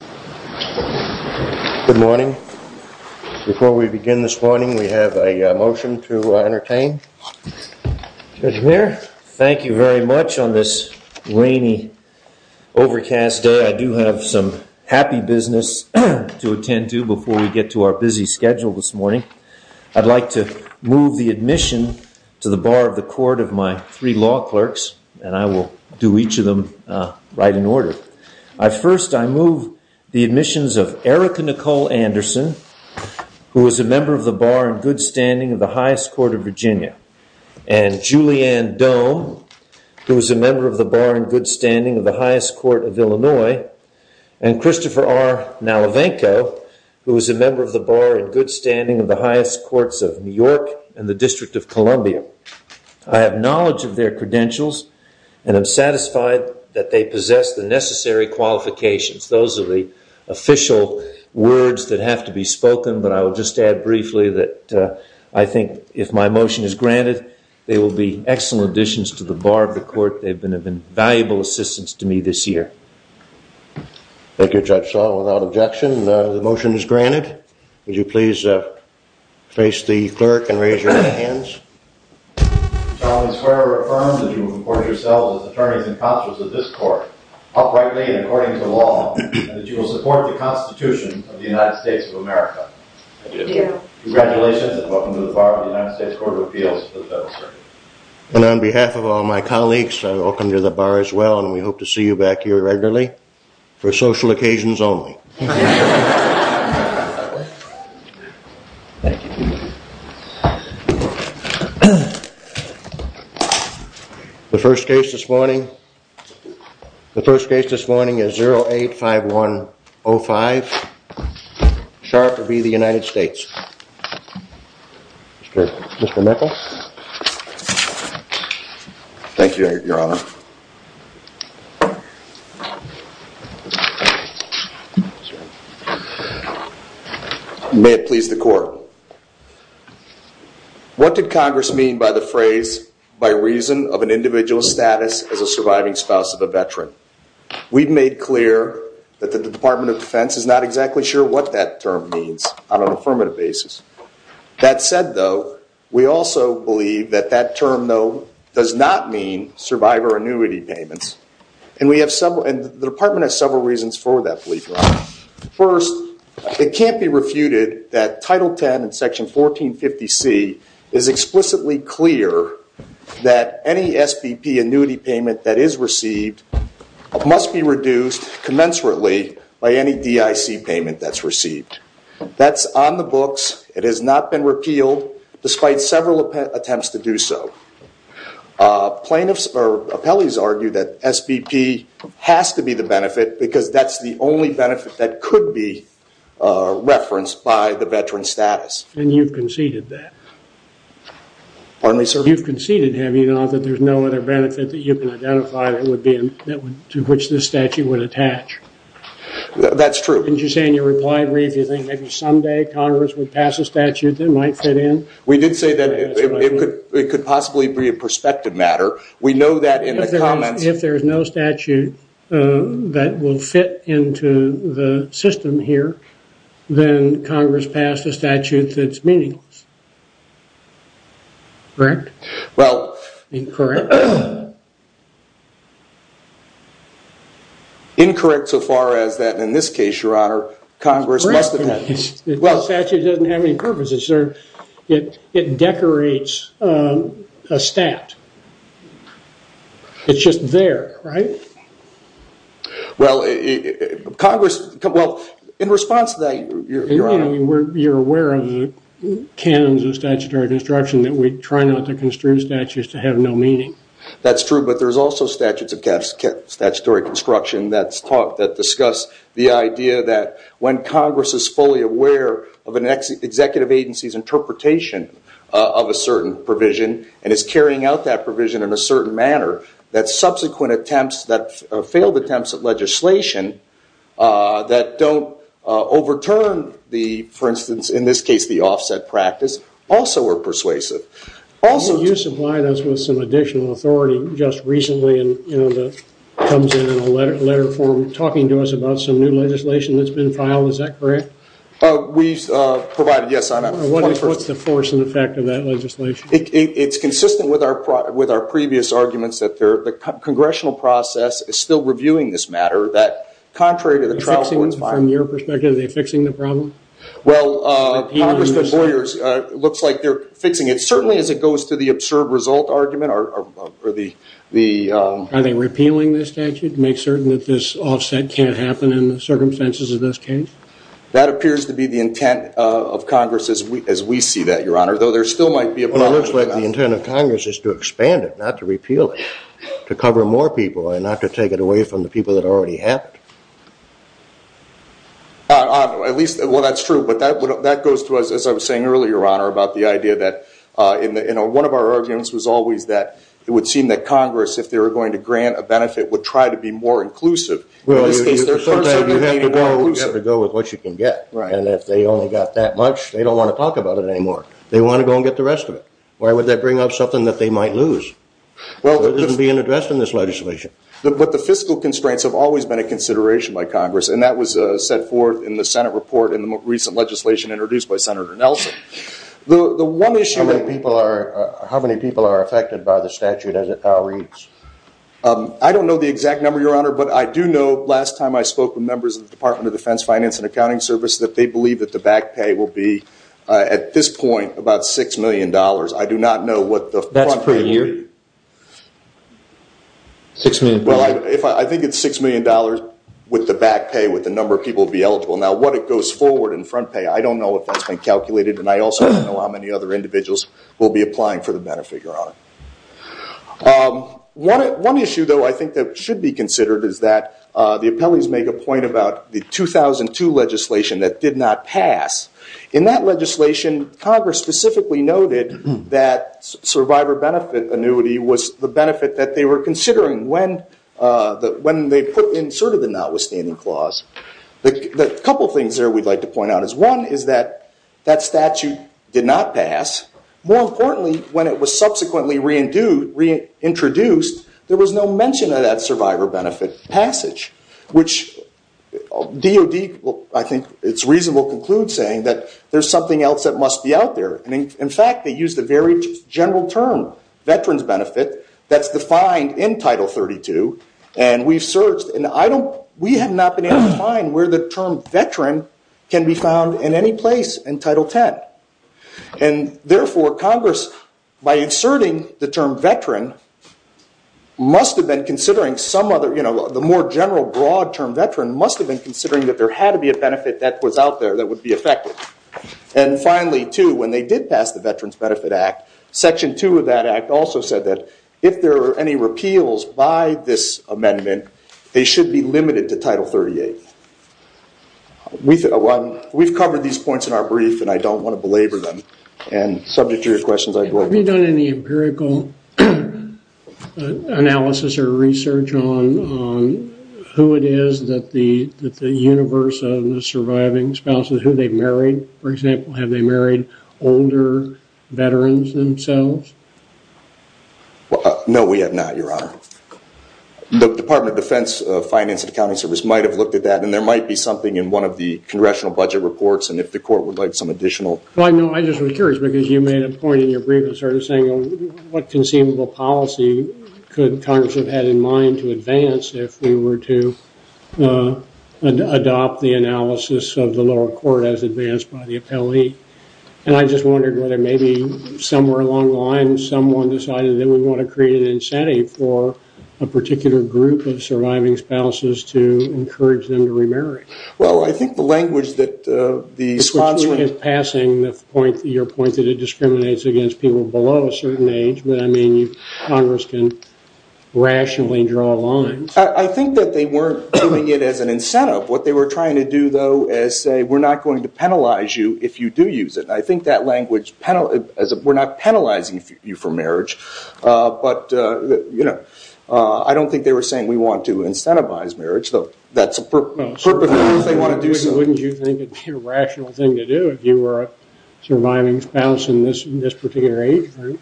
Good morning. Before we begin this morning we have a motion to entertain. Judge Muir, thank you very much on this rainy overcast day. I do have some happy business to attend to before we get to our busy schedule this morning. I'd like to move the admission to the bar of the court of my three law clerks and I will do each of them right in order. First I move the admissions of Erica Nicole Anderson, who is a member of the bar in good standing of the highest court of Virginia, and Julianne Doe, who is a member of the bar in good standing of the highest court of Illinois, and Christopher R. Nalavenko, who is a member of the bar in good standing of the highest courts of New York and the they possess the necessary qualifications. Those are the official words that have to be spoken, but I will just add briefly that I think if my motion is granted they will be excellent additions to the bar of the court. They've been of invaluable assistance to me this year. Thank you, Judge Shaw. Without objection, the motion is granted. Would you please face the clerk and raise your hands. I swear or affirm that you will report yourself as attorneys and consuls of this court, uprightly and according to law, and that you will support the Constitution of the United States of America. Congratulations and welcome to the bar of the United States Court of Appeals for the Federal Circuit. And on behalf of all my colleagues, welcome to the bar as well and we hope to see you back here regularly for social occasions only. The first case this morning is 085105, Sharp v. the United States. Mr. Meckle. Thank you, Your Honor. May it please the court. What did Congress mean by the phrase, by reason of an individual's status as a surviving spouse of a veteran? We've made clear that the Department of Defense is not exactly sure what that term means on an affirmative basis. That said, though, we also believe that that term, though, does not mean survivor annuity payments. And we have several, and the Department has several reasons for that belief, Your Honor. First, it can't be refuted that Title X in Section 1450C is explicitly clear that any SBP annuity payment that is received must be reduced commensurately by any DIC payment that's received. That's on the books. It has not been repealed despite several attempts to do so. Plaintiffs or appellees argue that SBP has to be the benefit because that's the only benefit that could be referenced by the veteran's status. And you've conceded that? Pardon me, sir? You've conceded, have you, that there's no other benefit that you And you say in your reply, Reeve, you think maybe someday Congress would pass a statute that might fit in? We did say that it could possibly be a prospective matter. We know that in the comments... If there's no statute that will fit into the system here, then Congress passed a statute that's meaningless. Correct? Incorrect? Incorrect so far as the statute has that. In this case, your honor, Congress must... The statute doesn't have any purpose. It decorates a stat. It's just there, right? Well, in response to that, your honor... You're aware of the canons of statutory construction that we try not to construe statutes to have no meaning. That's true, but there's also statutes of statutory construction that discuss the idea that when Congress is fully aware of an executive agency's interpretation of a certain provision and is carrying out that provision in a certain manner, that subsequent attempts, that failed attempts at legislation that don't overturn the, for instance, in this case, the offset practice, also are persuasive. Also... You supplied us with some additional authority just recently that comes in a letter form talking to us about some new legislation that's been filed. Is that correct? We've provided... Yes, your honor. What's the force and effect of that legislation? It's consistent with our previous arguments that the congressional process is still reviewing this matter that, contrary to the trial court's... From your perspective, are they fixing the problem? Well, Congressman Boyers looks like they're fixing it. Certainly, as it goes to the absurd result argument or the... Are they repealing this statute to make certain that this offset can't happen in the circumstances of this case? That appears to be the intent of Congress as we see that, your honor, though there still might be a problem. It looks like the intent of Congress is to expand it, not to repeal it, to cover more people and not to take it away from the people that already have it. At least... Well, that's true, but that goes to us, as I was saying earlier, your honor, about the idea that... One of our arguments was always that it would seem that Congress, if they were going to grant a benefit, would try to be more inclusive. In this case, they're certainly being more inclusive. You have to go with what you can get. And if they only got that much, they don't want to talk about it anymore. They want to go and get the rest of it. Why would they bring up something that they might lose? It isn't being addressed in this legislation. But the fiscal constraints have always been a consideration by Congress, and that was set forth in the Senate report in the most recent legislation introduced by Senator Nelson. How many people are affected by the statute as it now reads? I don't know the exact number, your honor, but I do know, last time I spoke with members of the Department of Defense Finance and Accounting Service, that they believe that the back pay will be, at this point, about $6 million. I do not know what the front pay will be. I think it's $6 million with the back pay, with the number of people to be eligible. Now, what it goes forward in front pay, I don't know if that's been calculated, and I also don't know how many other individuals will be applying for the benefit, your honor. One issue, though, I think that should be considered is that the appellees make a point about the 2002 legislation that did not pass. In that legislation, Congress specifically noted that survivor benefit annuity was the benefit that they were considering when they put in sort of the notwithstanding clause. A couple of things there we'd like to point out is, one, is that that statute did not pass. More importantly, when it was subsequently reintroduced, there was no mention of that survivor benefit passage, which DOD, I think it's reasonable to conclude saying that there's something else that must be out there. In fact, they used a very general term, veterans benefit, that's defined in Title 32, and we've searched, and we have not been able to find where the term veteran can be found in any place in Title 10. And therefore, Congress, by inserting the term veteran, must have been considering some other, you know, the more general broad term veteran must have been considering that there had to be a benefit that was out there that would be effective. And finally, too, when they did pass the Veterans Benefit Act, Section 2 of that act also said that if there are any repeals by this amendment, they should be limited to Title 38. We've covered these points in our brief, and I don't want to belabor them. And subject to your questions, I'd go ahead. Have you done any empirical analysis or research on who it is that the universe of the surviving spouses, who they've married, for example, have they married older veterans themselves? No, we have not, Your Honor. The Department of Defense Finance and Accounting Service might have looked at that, and there might be something in one of the Congressional Budget Reports, and if the Court would like some additional... Well, I know, I just was curious, because you made a point in your brief in sort of saying what conceivable policy could Congress have had in mind to advance if we were to adopt the analysis of the lower court as advanced by the appellee. And I just wondered whether maybe somewhere along the line, someone decided that we want to create an incentive for a particular group of surviving spouses to encourage them to remarry. Well, I think the language that the sponsor... Which is passing your point that it discriminates against people below a certain age, but I mean, Congress can rationally draw lines. I think that they weren't doing it as an incentive. What they were trying to do, though, is say, we're going to penalize you if you do use it. I think that language, we're not penalizing you for marriage, but I don't think they were saying we want to incentivize marriage, though that's a purpose if they want to do so. Wouldn't you think it would be a rational thing to do if you were a surviving spouse in this particular age group?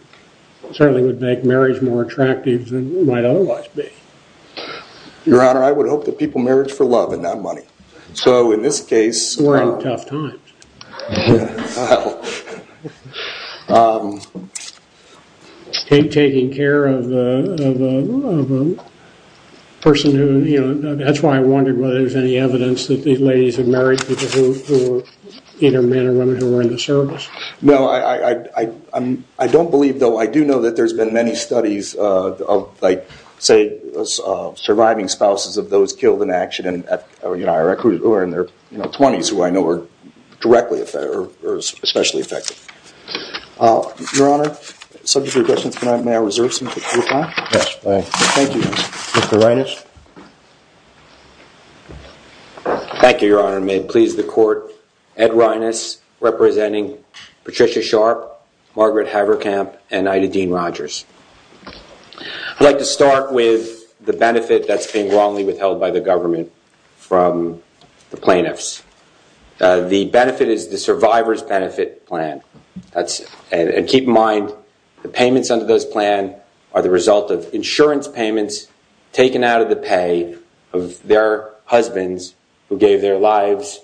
Certainly would make marriage more attractive than it might otherwise be. Your Honor, I would hope that people marriage for love and not money. So in this case... We're in tough times. Taking care of a person who, you know, that's why I wondered whether there was any evidence that these ladies had married people who were either men or women who were in the service. No, I don't believe, though, I do know that there's been many studies of like, say, surviving spouses of those killed in action, who are in their 20s, who I know are directly or especially affected. Your Honor, subject to regressions, may I reserve some time? Thank you. Mr. Reines. Thank you, Your Honor. May it please the Court, Ed Reines representing Patricia Sharp, Margaret Haverkamp, and Ida Dean-Rogers. I'd like to start with the benefit that's been wrongly withheld by the government from the plaintiffs. The benefit is the survivor's benefit plan. And keep in mind, the payments under this plan are the result of insurance payments taken out of the pay of their husbands who gave their lives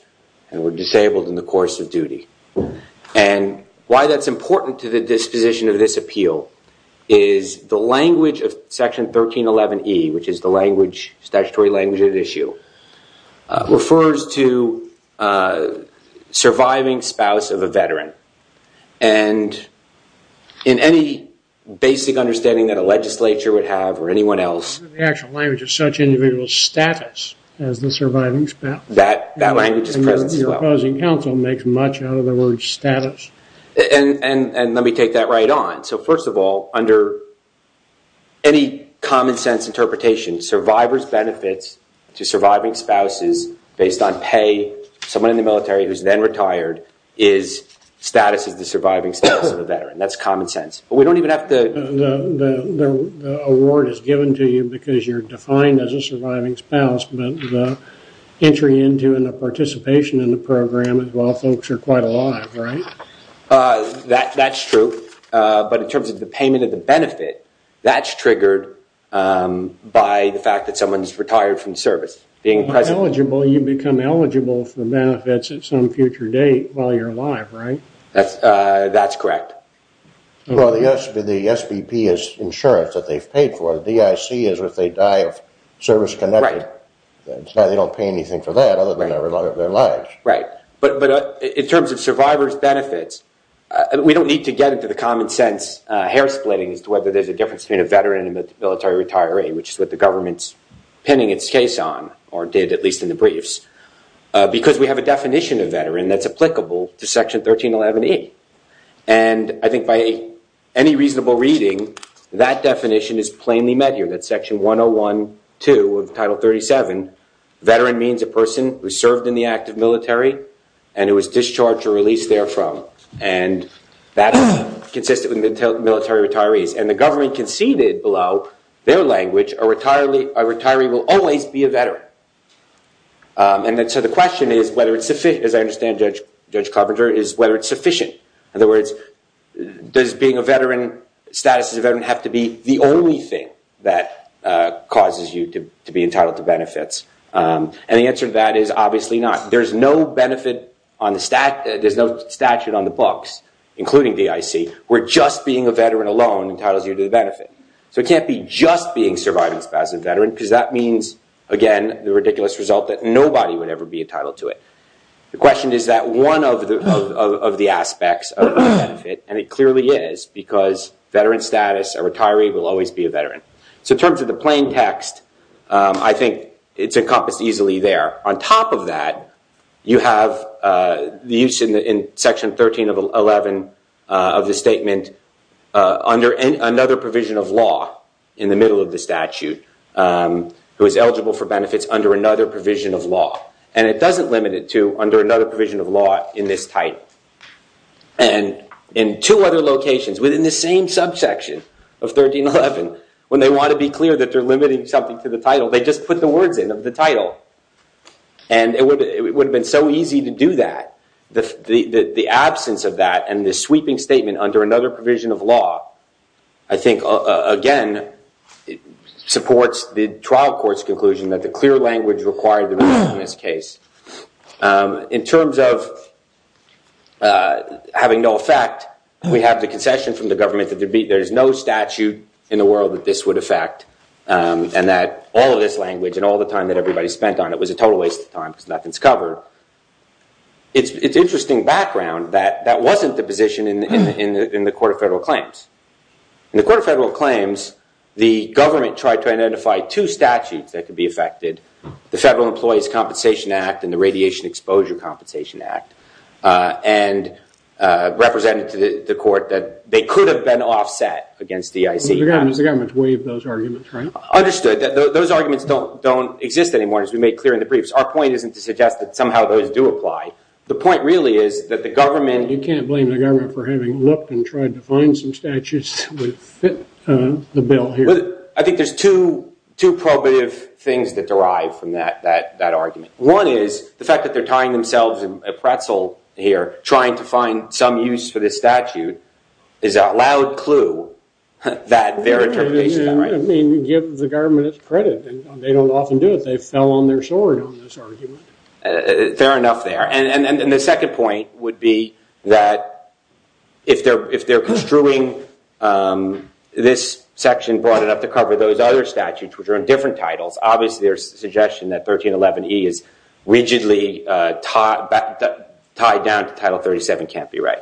and were disabled in the course of duty. And why that's important to the disposition of this appeal is the language of Section 1311E, which is the language, statutory language at issue, refers to surviving spouse of a veteran. And in any basic understanding that a legislature would have or anyone else... The actual language is such individual status as the surviving spouse. That language is present as well. And the proposing counsel makes much out of the word status. And let me take that right on. So first of all, under any common sense interpretation, survivor's benefits to surviving spouses based on pay, someone in the military who's then retired, is status as the surviving spouse of a veteran. That's common sense. But we don't even have to... The award is given to you because you're defined as a surviving spouse, but the entry into and the participation in the program as well folks are quite alive, right? That's true. But in terms of the payment of the benefit, that's triggered by the fact that someone's Being present... If you're eligible, you become eligible for benefits at some future date while you're alive, right? That's correct. Well, the SBP is insurance that they've paid for. The DIC is if they die of service connected. Right. They don't pay anything for that other than they're alive. Right. But in terms of survivor's benefits, we don't need to get into the common sense hair splitting as to whether there's a difference between a veteran and a military retiree, which is what the government's pinning its case on, or did at least in the briefs. Because we have a definition of veteran that's applicable to Section 1311E. And I think by any reasonable reading, that definition is plainly met here. And that's Section 101.2 of Title 37. Veteran means a person who served in the active military and who was discharged or released there from. And that's consistent with military retirees. And the government conceded below their language, a retiree will always be a veteran. And so the question is whether it's sufficient, as I understand Judge Carpenter, is whether it's sufficient. In other words, does being a veteran, status as a veteran, have to be the only thing that causes you to be entitled to benefits? And the answer to that is obviously not. There's no benefit on the statute on the books, including DIC, where just being a veteran alone entitles you to the benefit. So it can't be just being survived as a veteran, because that means, again, the ridiculous result that nobody would ever be entitled to it. The question is that one of the aspects of the benefit, and it clearly is, because veteran status, a retiree will always be a veteran. So in terms of the plain text, I think it's encompassed easily there. On top of that, you have the use in Section 13 of 11 of the statement under another provision of law in the middle of the statute, who is eligible for benefits under another provision of law. And it doesn't limit it to under another provision of law in this title. And in two other locations within the same subsection of 1311, when they want to be clear that they're limiting something to the title, they just put the words in of the title. And it would have been so easy to do that. The absence of that and the sweeping statement under another provision of law, I think, again, supports the trial court's conclusion that the clear language required in this case. In terms of having no effect, we have the concession from the government that there is no statute in the world that this would affect, and that all of this language and all the time that everybody spent on it was a total waste of time because nothing's covered. It's interesting background that that wasn't the position in the Court of Federal Claims. In the Court of Federal Claims, the government tried to identify two statutes that could be affected, the Federal Employees Compensation Act and the Radiation Exposure Compensation Act, and represented to the court that they could have been offset against the EIC. The government's waived those arguments, right? Understood. Those arguments don't exist anymore, as we made clear in the briefs. Our point isn't to suggest that somehow those do apply. The point really is that the government— Trying to find some statutes that would fit the bill here. I think there's two probative things that derive from that argument. One is the fact that they're tying themselves in a pretzel here, trying to find some use for this statute, is a loud clue that their interpretation— I mean, give the government its credit. They don't often do it. They fell on their sword on this argument. Fair enough there. And the second point would be that if they're construing this section broad enough to cover those other statutes, which are in different titles, obviously their suggestion that 1311E is rigidly tied down to Title 37 can't be right.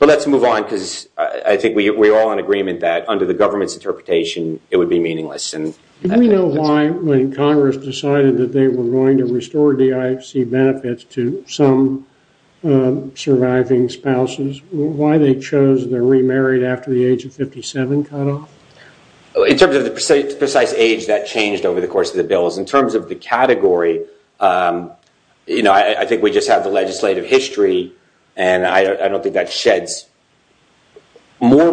But let's move on, because I think we're all in agreement that under the government's interpretation, it would be meaningless. Do we know why, when Congress decided that they were going to restore DIFC benefits to some surviving spouses, why they chose the remarried after the age of 57 cutoff? In terms of the precise age that changed over the course of the bills, in terms of the category, you know, I think we just have the legislative history, and I don't think that sheds more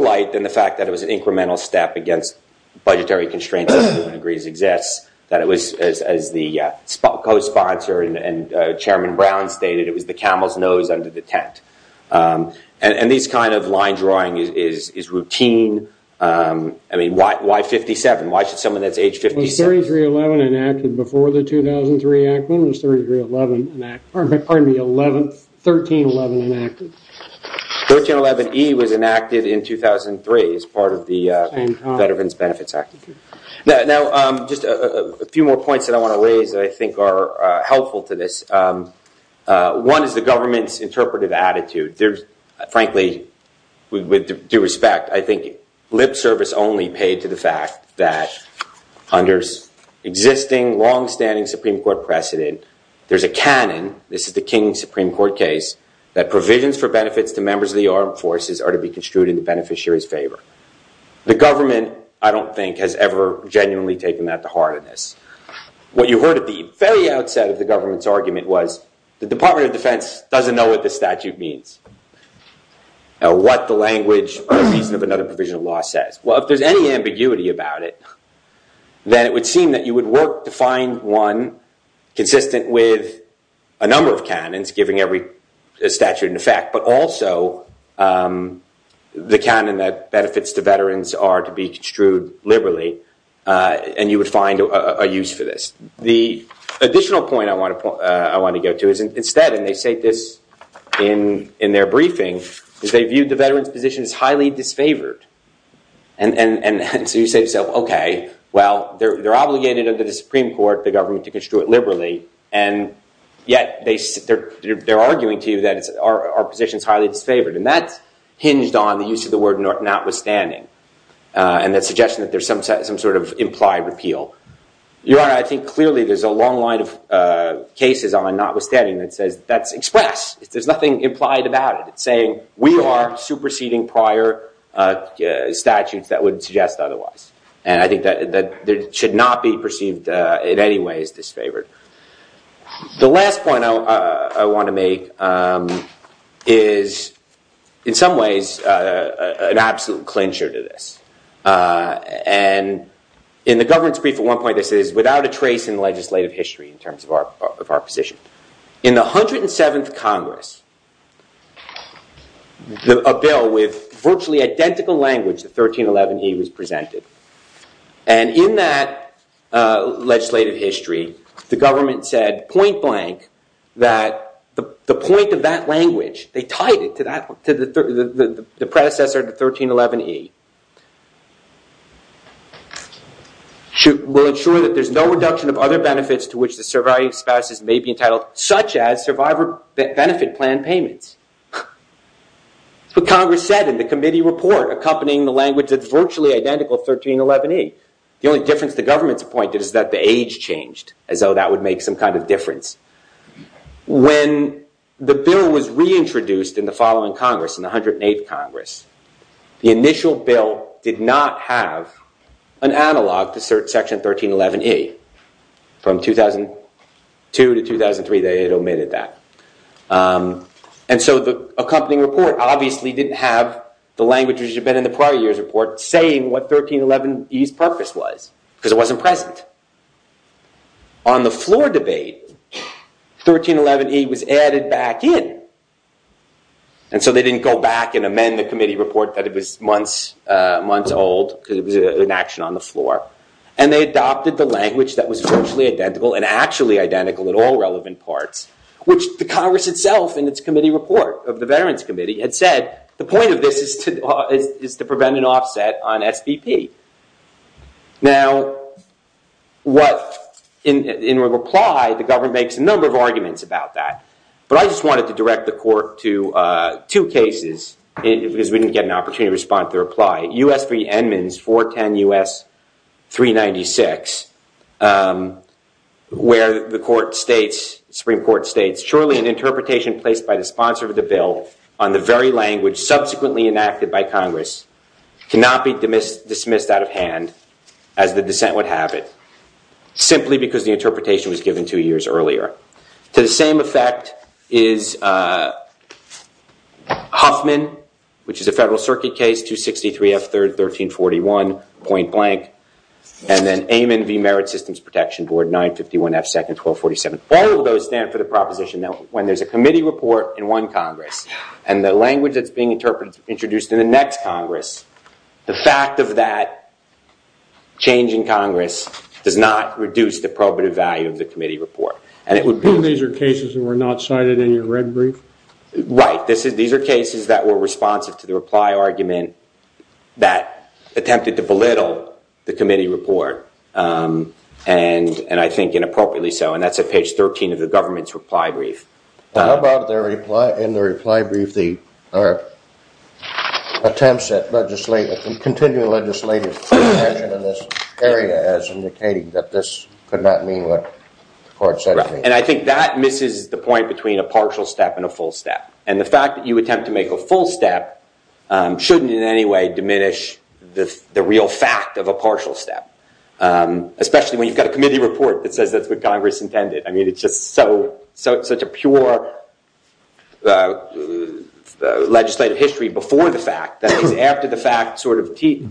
that it was, as the co-sponsor and Chairman Brown stated, it was the camel's nose under the tent. And this kind of line drawing is routine. I mean, why 57? Why should someone that's age 57— Was 3311 enacted before the 2003 act? When was 1311 enacted? 1311E was enacted in 2003 as part of the Veterans Benefits Act. Now, just a few more points that I want to raise that I think are helpful to this. One is the government's interpretive attitude. Frankly, with due respect, I think lip service only paid to the fact that under existing, longstanding Supreme Court precedent, there's a canon—this is the King Supreme Court case— that provisions for benefits to members of the armed forces are to be construed in the beneficiary's favor. The government, I don't think, has ever genuinely taken that to heart in this. What you heard at the very outset of the government's argument was, the Department of Defense doesn't know what the statute means, or what the language or reason of another provision of law says. Well, if there's any ambiguity about it, then it would seem that you would work to find one consistent with a number of canons, giving every statute in effect, but also the canon that benefits to veterans are to be construed liberally, and you would find a use for this. The additional point I want to go to is instead, and they say this in their briefing, is they viewed the veterans' positions highly disfavored. And so you say to yourself, okay, well, they're obligated under the Supreme Court, the government, to construe it liberally, and yet they're arguing to you that our position is highly disfavored. And that's hinged on the use of the word notwithstanding, and that suggestion that there's some sort of implied repeal. Your Honor, I think clearly there's a long line of cases on notwithstanding that says that's expressed. There's nothing implied about it. It's saying we are superseding prior statutes that would suggest otherwise. And I think that it should not be perceived in any way as disfavored. The last point I want to make is, in some ways, an absolute clincher to this. And in the governance brief at one point, this is without a trace in legislative history in terms of our position. In the 107th Congress, a bill with virtually identical language, the 1311E, was presented. And in that legislative history, the government said point blank that the point of that language, they tied it to the predecessor, the 1311E, will ensure that there's no reduction of other benefits to which the surviving spouses may be entitled, such as survivor benefit plan payments. That's what Congress said in the committee report, accompanying the language that's virtually identical, 1311E. The only difference the government's point is that the age changed, as though that would make some kind of difference. When the bill was reintroduced in the following Congress, in the 108th Congress, the initial bill did not have an analog to section 1311E. From 2002 to 2003, they omitted that. And so the accompanying report obviously didn't have the language, as it had been in the prior year's report, saying what 1311E's purpose was, because it wasn't present. On the floor debate, 1311E was added back in. And so they didn't go back and amend the committee report that it was months old, because it was an action on the floor. And they adopted the language that was virtually identical, and actually identical in all relevant parts, which the Congress itself in its committee report of the Veterans Committee had said, the point of this is to prevent an offset on SBP. Now, in reply, the government makes a number of arguments about that. But I just wanted to direct the court to two cases, because we didn't get an opportunity to respond to the reply. U.S. v. Edmonds, 410 U.S. 396, where the Supreme Court states, surely an interpretation placed by the sponsor of the bill on the very language subsequently enacted by Congress cannot be dismissed out of hand, as the dissent would have it, simply because the interpretation was given two years earlier. To the same effect is Huffman, which is a Federal Circuit case, 263 F. 1341, point blank. And then Amon v. Merit Systems Protection Board, 951 F. 1247. All of those stand for the proposition that when there's a committee report in one Congress, and the language that's being introduced in the next Congress, the fact of that change in Congress does not reduce the probative value of the committee report. And it would be... And these are cases that were not cited in your red brief? Right. These are cases that were responsive to the reply argument that attempted to belittle the committee report, and I think inappropriately so. And that's at page 13 of the government's reply brief. How about in the reply brief the attempts at continuing legislative intervention in this area as indicating that this could not mean what the court said it would mean? And I think that misses the point between a partial step and a full step. And the fact that you attempt to make a full step shouldn't in any way diminish the real fact of a partial step. Especially when you've got a committee report that says that's what Congress intended. I mean, it's just such a pure legislative history before the fact that it's after the fact sort of tea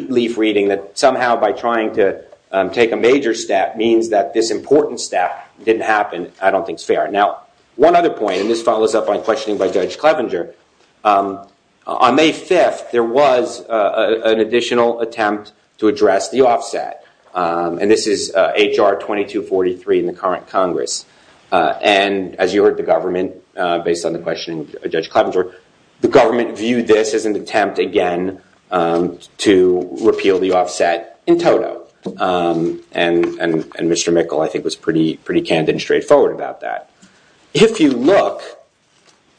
leaf reading that somehow by trying to take a major step means that this important step didn't happen. I don't think it's fair. Now, one other point, and this follows up on questioning by Judge Clevenger. On May 5th, there was an additional attempt to address the offset. And this is H.R. 2243 in the current Congress. And as you heard the government, based on the questioning of Judge Clevenger, the government viewed this as an attempt, again, to repeal the offset in toto. And Mr. Mikkel, I think, was pretty candid and straightforward about that. If you look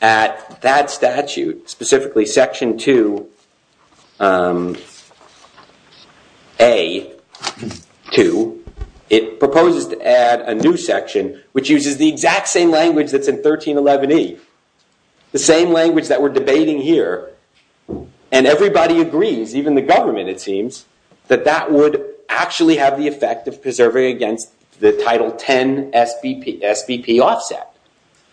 at that statute, specifically Section 2A.2, it proposes to add a new section which uses the exact same language that's in 1311E. The same language that we're debating here. And everybody agrees, even the government, it seems, that that would actually have the effect of preserving against the Title X SBP offset.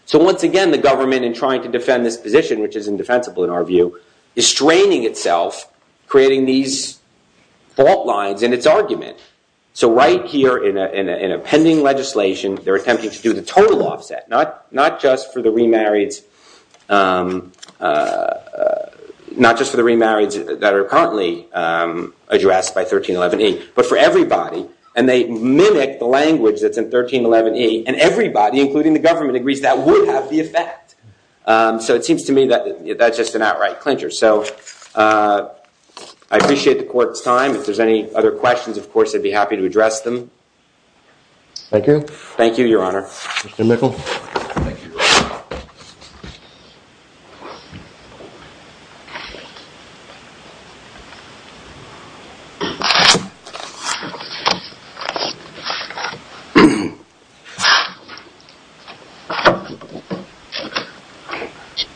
So once again, the government in trying to defend this position, which is indefensible in our view, is straining itself, creating these fault lines in its argument. So right here in a pending legislation, they're attempting to do the total offset, not just for the remarrieds that are currently addressed by 1311E, but for everybody. And they mimic the language that's in 1311E. And everybody, including the government, agrees that would have the effect. So it seems to me that that's just an outright clincher. So I appreciate the court's time. If there's any other questions, of course, I'd be happy to address them. Thank you. Thank you, Your Honor. Mr. Mickel? Thank you, Your Honor.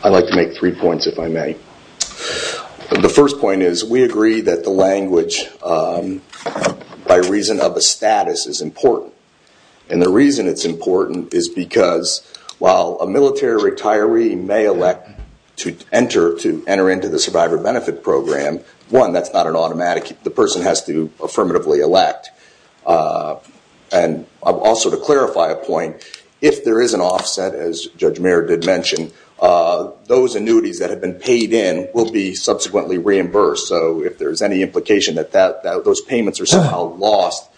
I'd like to make three points, if I may. The first point is we agree that the language, by reason of a status, is important. And the reason it's important is because while a military retiree may elect to enter into the Survivor Benefit Program, one, that's not an automatic. The person has to affirmatively elect. And also to clarify a point, if there is an offset, as Judge Mayer did mention, those annuities that have been paid in will be subsequently reimbursed. So if there's any implication that those payments are somehow lost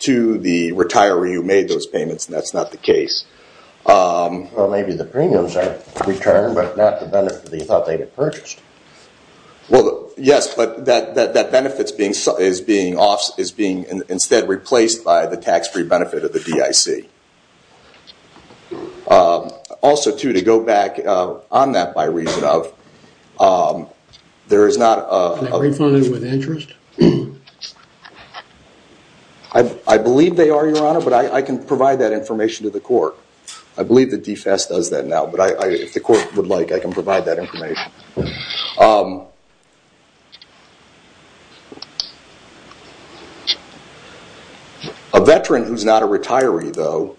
to the retiree who made those payments, that's not the case. Well, maybe the premiums are returned, but not the benefit that you thought they had purchased. Well, yes, but that benefit is being instead replaced by the tax-free benefit of the DIC. Also, too, to go back on that by reason of, there is not a- Are they refunded with interest? I believe they are, Your Honor, but I can provide that information to the court. I believe the DFS does that now, but if the court would like, I can provide that information. A veteran who is not a retiree, though,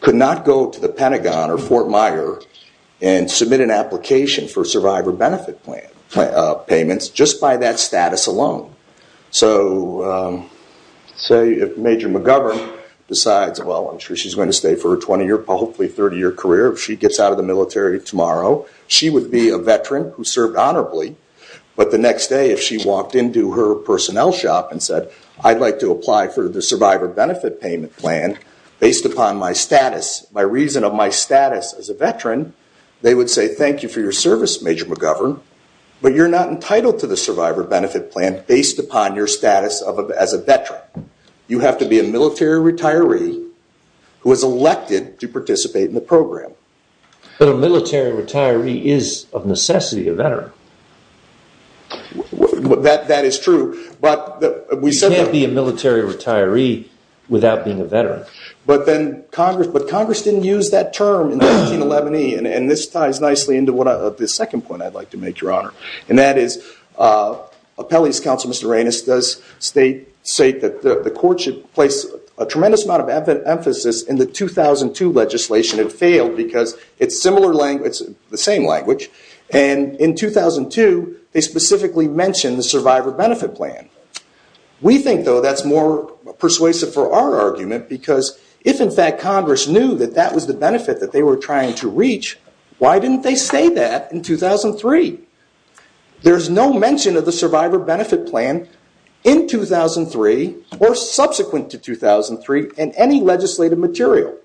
could not go to the Pentagon or Fort Meyer and submit an application for Survivor Benefit Payments just by that status alone. So say if Major McGovern decides, well, I'm sure she's going to stay for her 20-year, hopefully 30-year career, if she gets out of the military tomorrow, she would be a veteran, who served honorably, but the next day if she walked into her personnel shop and said, I'd like to apply for the Survivor Benefit Payment Plan based upon my status, by reason of my status as a veteran, they would say, thank you for your service, Major McGovern, but you're not entitled to the Survivor Benefit Plan based upon your status as a veteran. You have to be a military retiree who is elected to participate in the program. But a military retiree is, of necessity, a veteran. That is true, but we said that- You can't be a military retiree without being a veteran. But Congress didn't use that term in the 1911E, and this ties nicely into the second point I'd like to make, Your Honor, and that is Appellee's Counsel, Mr. Raines, does state that the courtship placed a tremendous amount of emphasis in the 2002 legislation. It failed because it's the same language, and in 2002 they specifically mentioned the Survivor Benefit Plan. We think, though, that's more persuasive for our argument, because if, in fact, Congress knew that that was the benefit that they were trying to reach, why didn't they say that in 2003? There's no mention of the Survivor Benefit Plan in 2003 or subsequent to 2003 in any legislative material.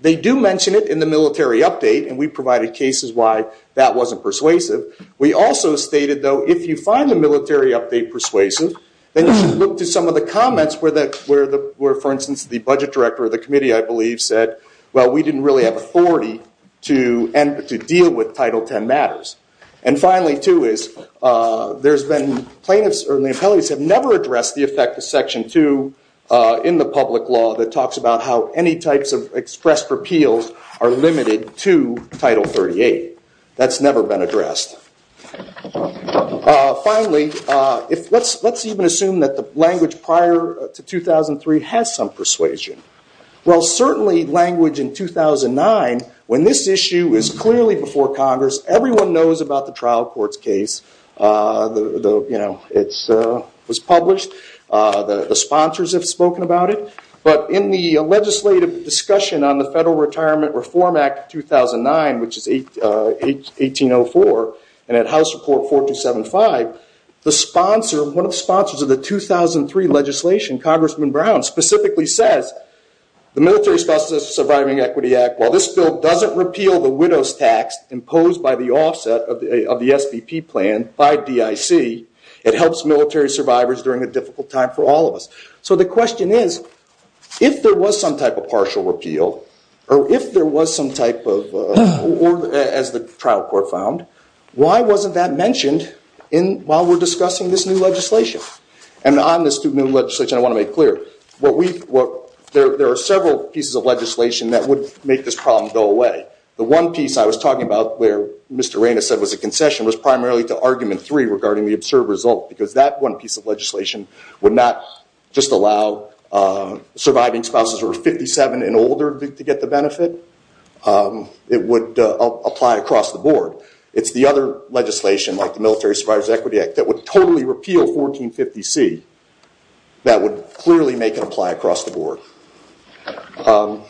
They do mention it in the military update, and we provided cases why that wasn't persuasive. We also stated, though, if you find the military update persuasive, then you should look to some of the comments where, for instance, the budget director of the committee, I believe, said, well, we didn't really have authority to deal with Title X matters. And finally, too, is the appellees have never addressed the effect of Section 2 in the public law that talks about how any types of expressed repeals are limited to Title 38. That's never been addressed. Finally, let's even assume that the language prior to 2003 has some persuasion. Well, certainly language in 2009, when this issue is clearly before Congress, everyone knows about the trial court's case. It was published. The sponsors have spoken about it. But in the legislative discussion on the Federal Retirement Reform Act of 2009, which is 1804, and at House Report 4275, one of the sponsors of the 2003 legislation, Congressman Brown, specifically says, the Military Specialist Surviving Equity Act, while this bill doesn't repeal the widow's tax imposed by the offset of the SBP plan by DIC, it helps military survivors during a difficult time for all of us. So the question is, if there was some type of partial repeal, or if there was some type of, as the trial court found, why wasn't that mentioned while we're discussing this new legislation? And on this new legislation, I want to make clear, there are several pieces of legislation that would make this problem go away. The one piece I was talking about, where Mr. Raines said it was a concession, was primarily to Argument 3 regarding the absurd result, because that one piece of legislation would not just allow surviving spouses who are 57 and older to get the benefit. It would apply across the board. It's the other legislation, like the Military Survivors Equity Act, that would totally repeal 1450C, that would clearly make it apply across the board. And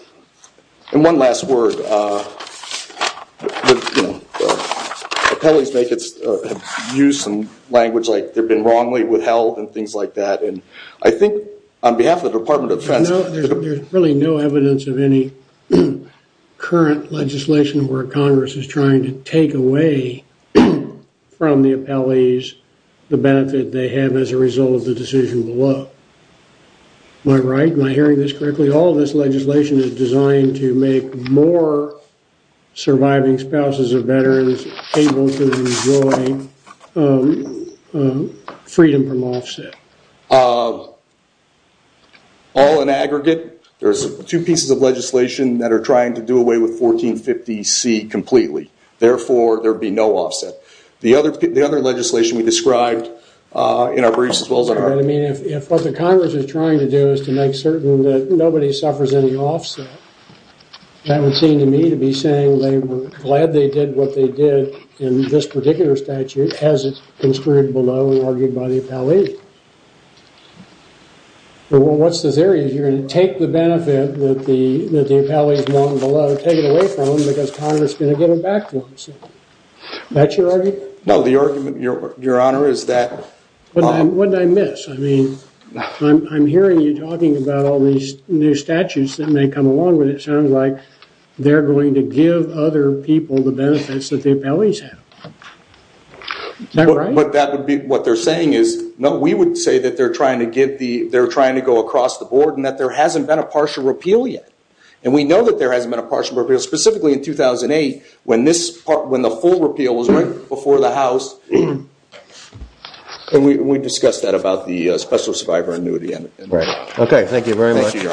one last word. Appellees have used some language like they've been wrongly withheld and things like that. And I think on behalf of the Department of Defense... There's really no evidence of any current legislation where Congress is trying to take away from the appellees the benefit they have as a result of the decision below. Am I right? Am I hearing this correctly? All of this legislation is designed to make more surviving spouses of veterans able to enjoy freedom from offset. All in aggregate, there's two pieces of legislation that are trying to do away with 1450C completely. Therefore, there would be no offset. The other legislation we described in our briefs, as well as our... I mean, if what the Congress is trying to do is to make certain that nobody suffers any offset, that would seem to me to be saying they were glad they did what they did in this particular statute, as it's construed below and argued by the appellees. What's the theory? You're going to take the benefit that the appellees want below, take it away from them, because Congress is going to give it back to them. That's your argument? No, the argument, Your Honor, is that... What did I miss? I mean, I'm hearing you talking about all these new statutes that may come along when it sounds like they're going to give other people the benefits that the appellees have. But that would be... What they're saying is... No, we would say that they're trying to go across the board and that there hasn't been a partial repeal yet. And we know that there hasn't been a partial repeal. Specifically in 2008, when the full repeal was right before the House, we discussed that about the Special Survivor Annuity. Okay, thank you very much. Thank you, Your Honor. Case is submitted.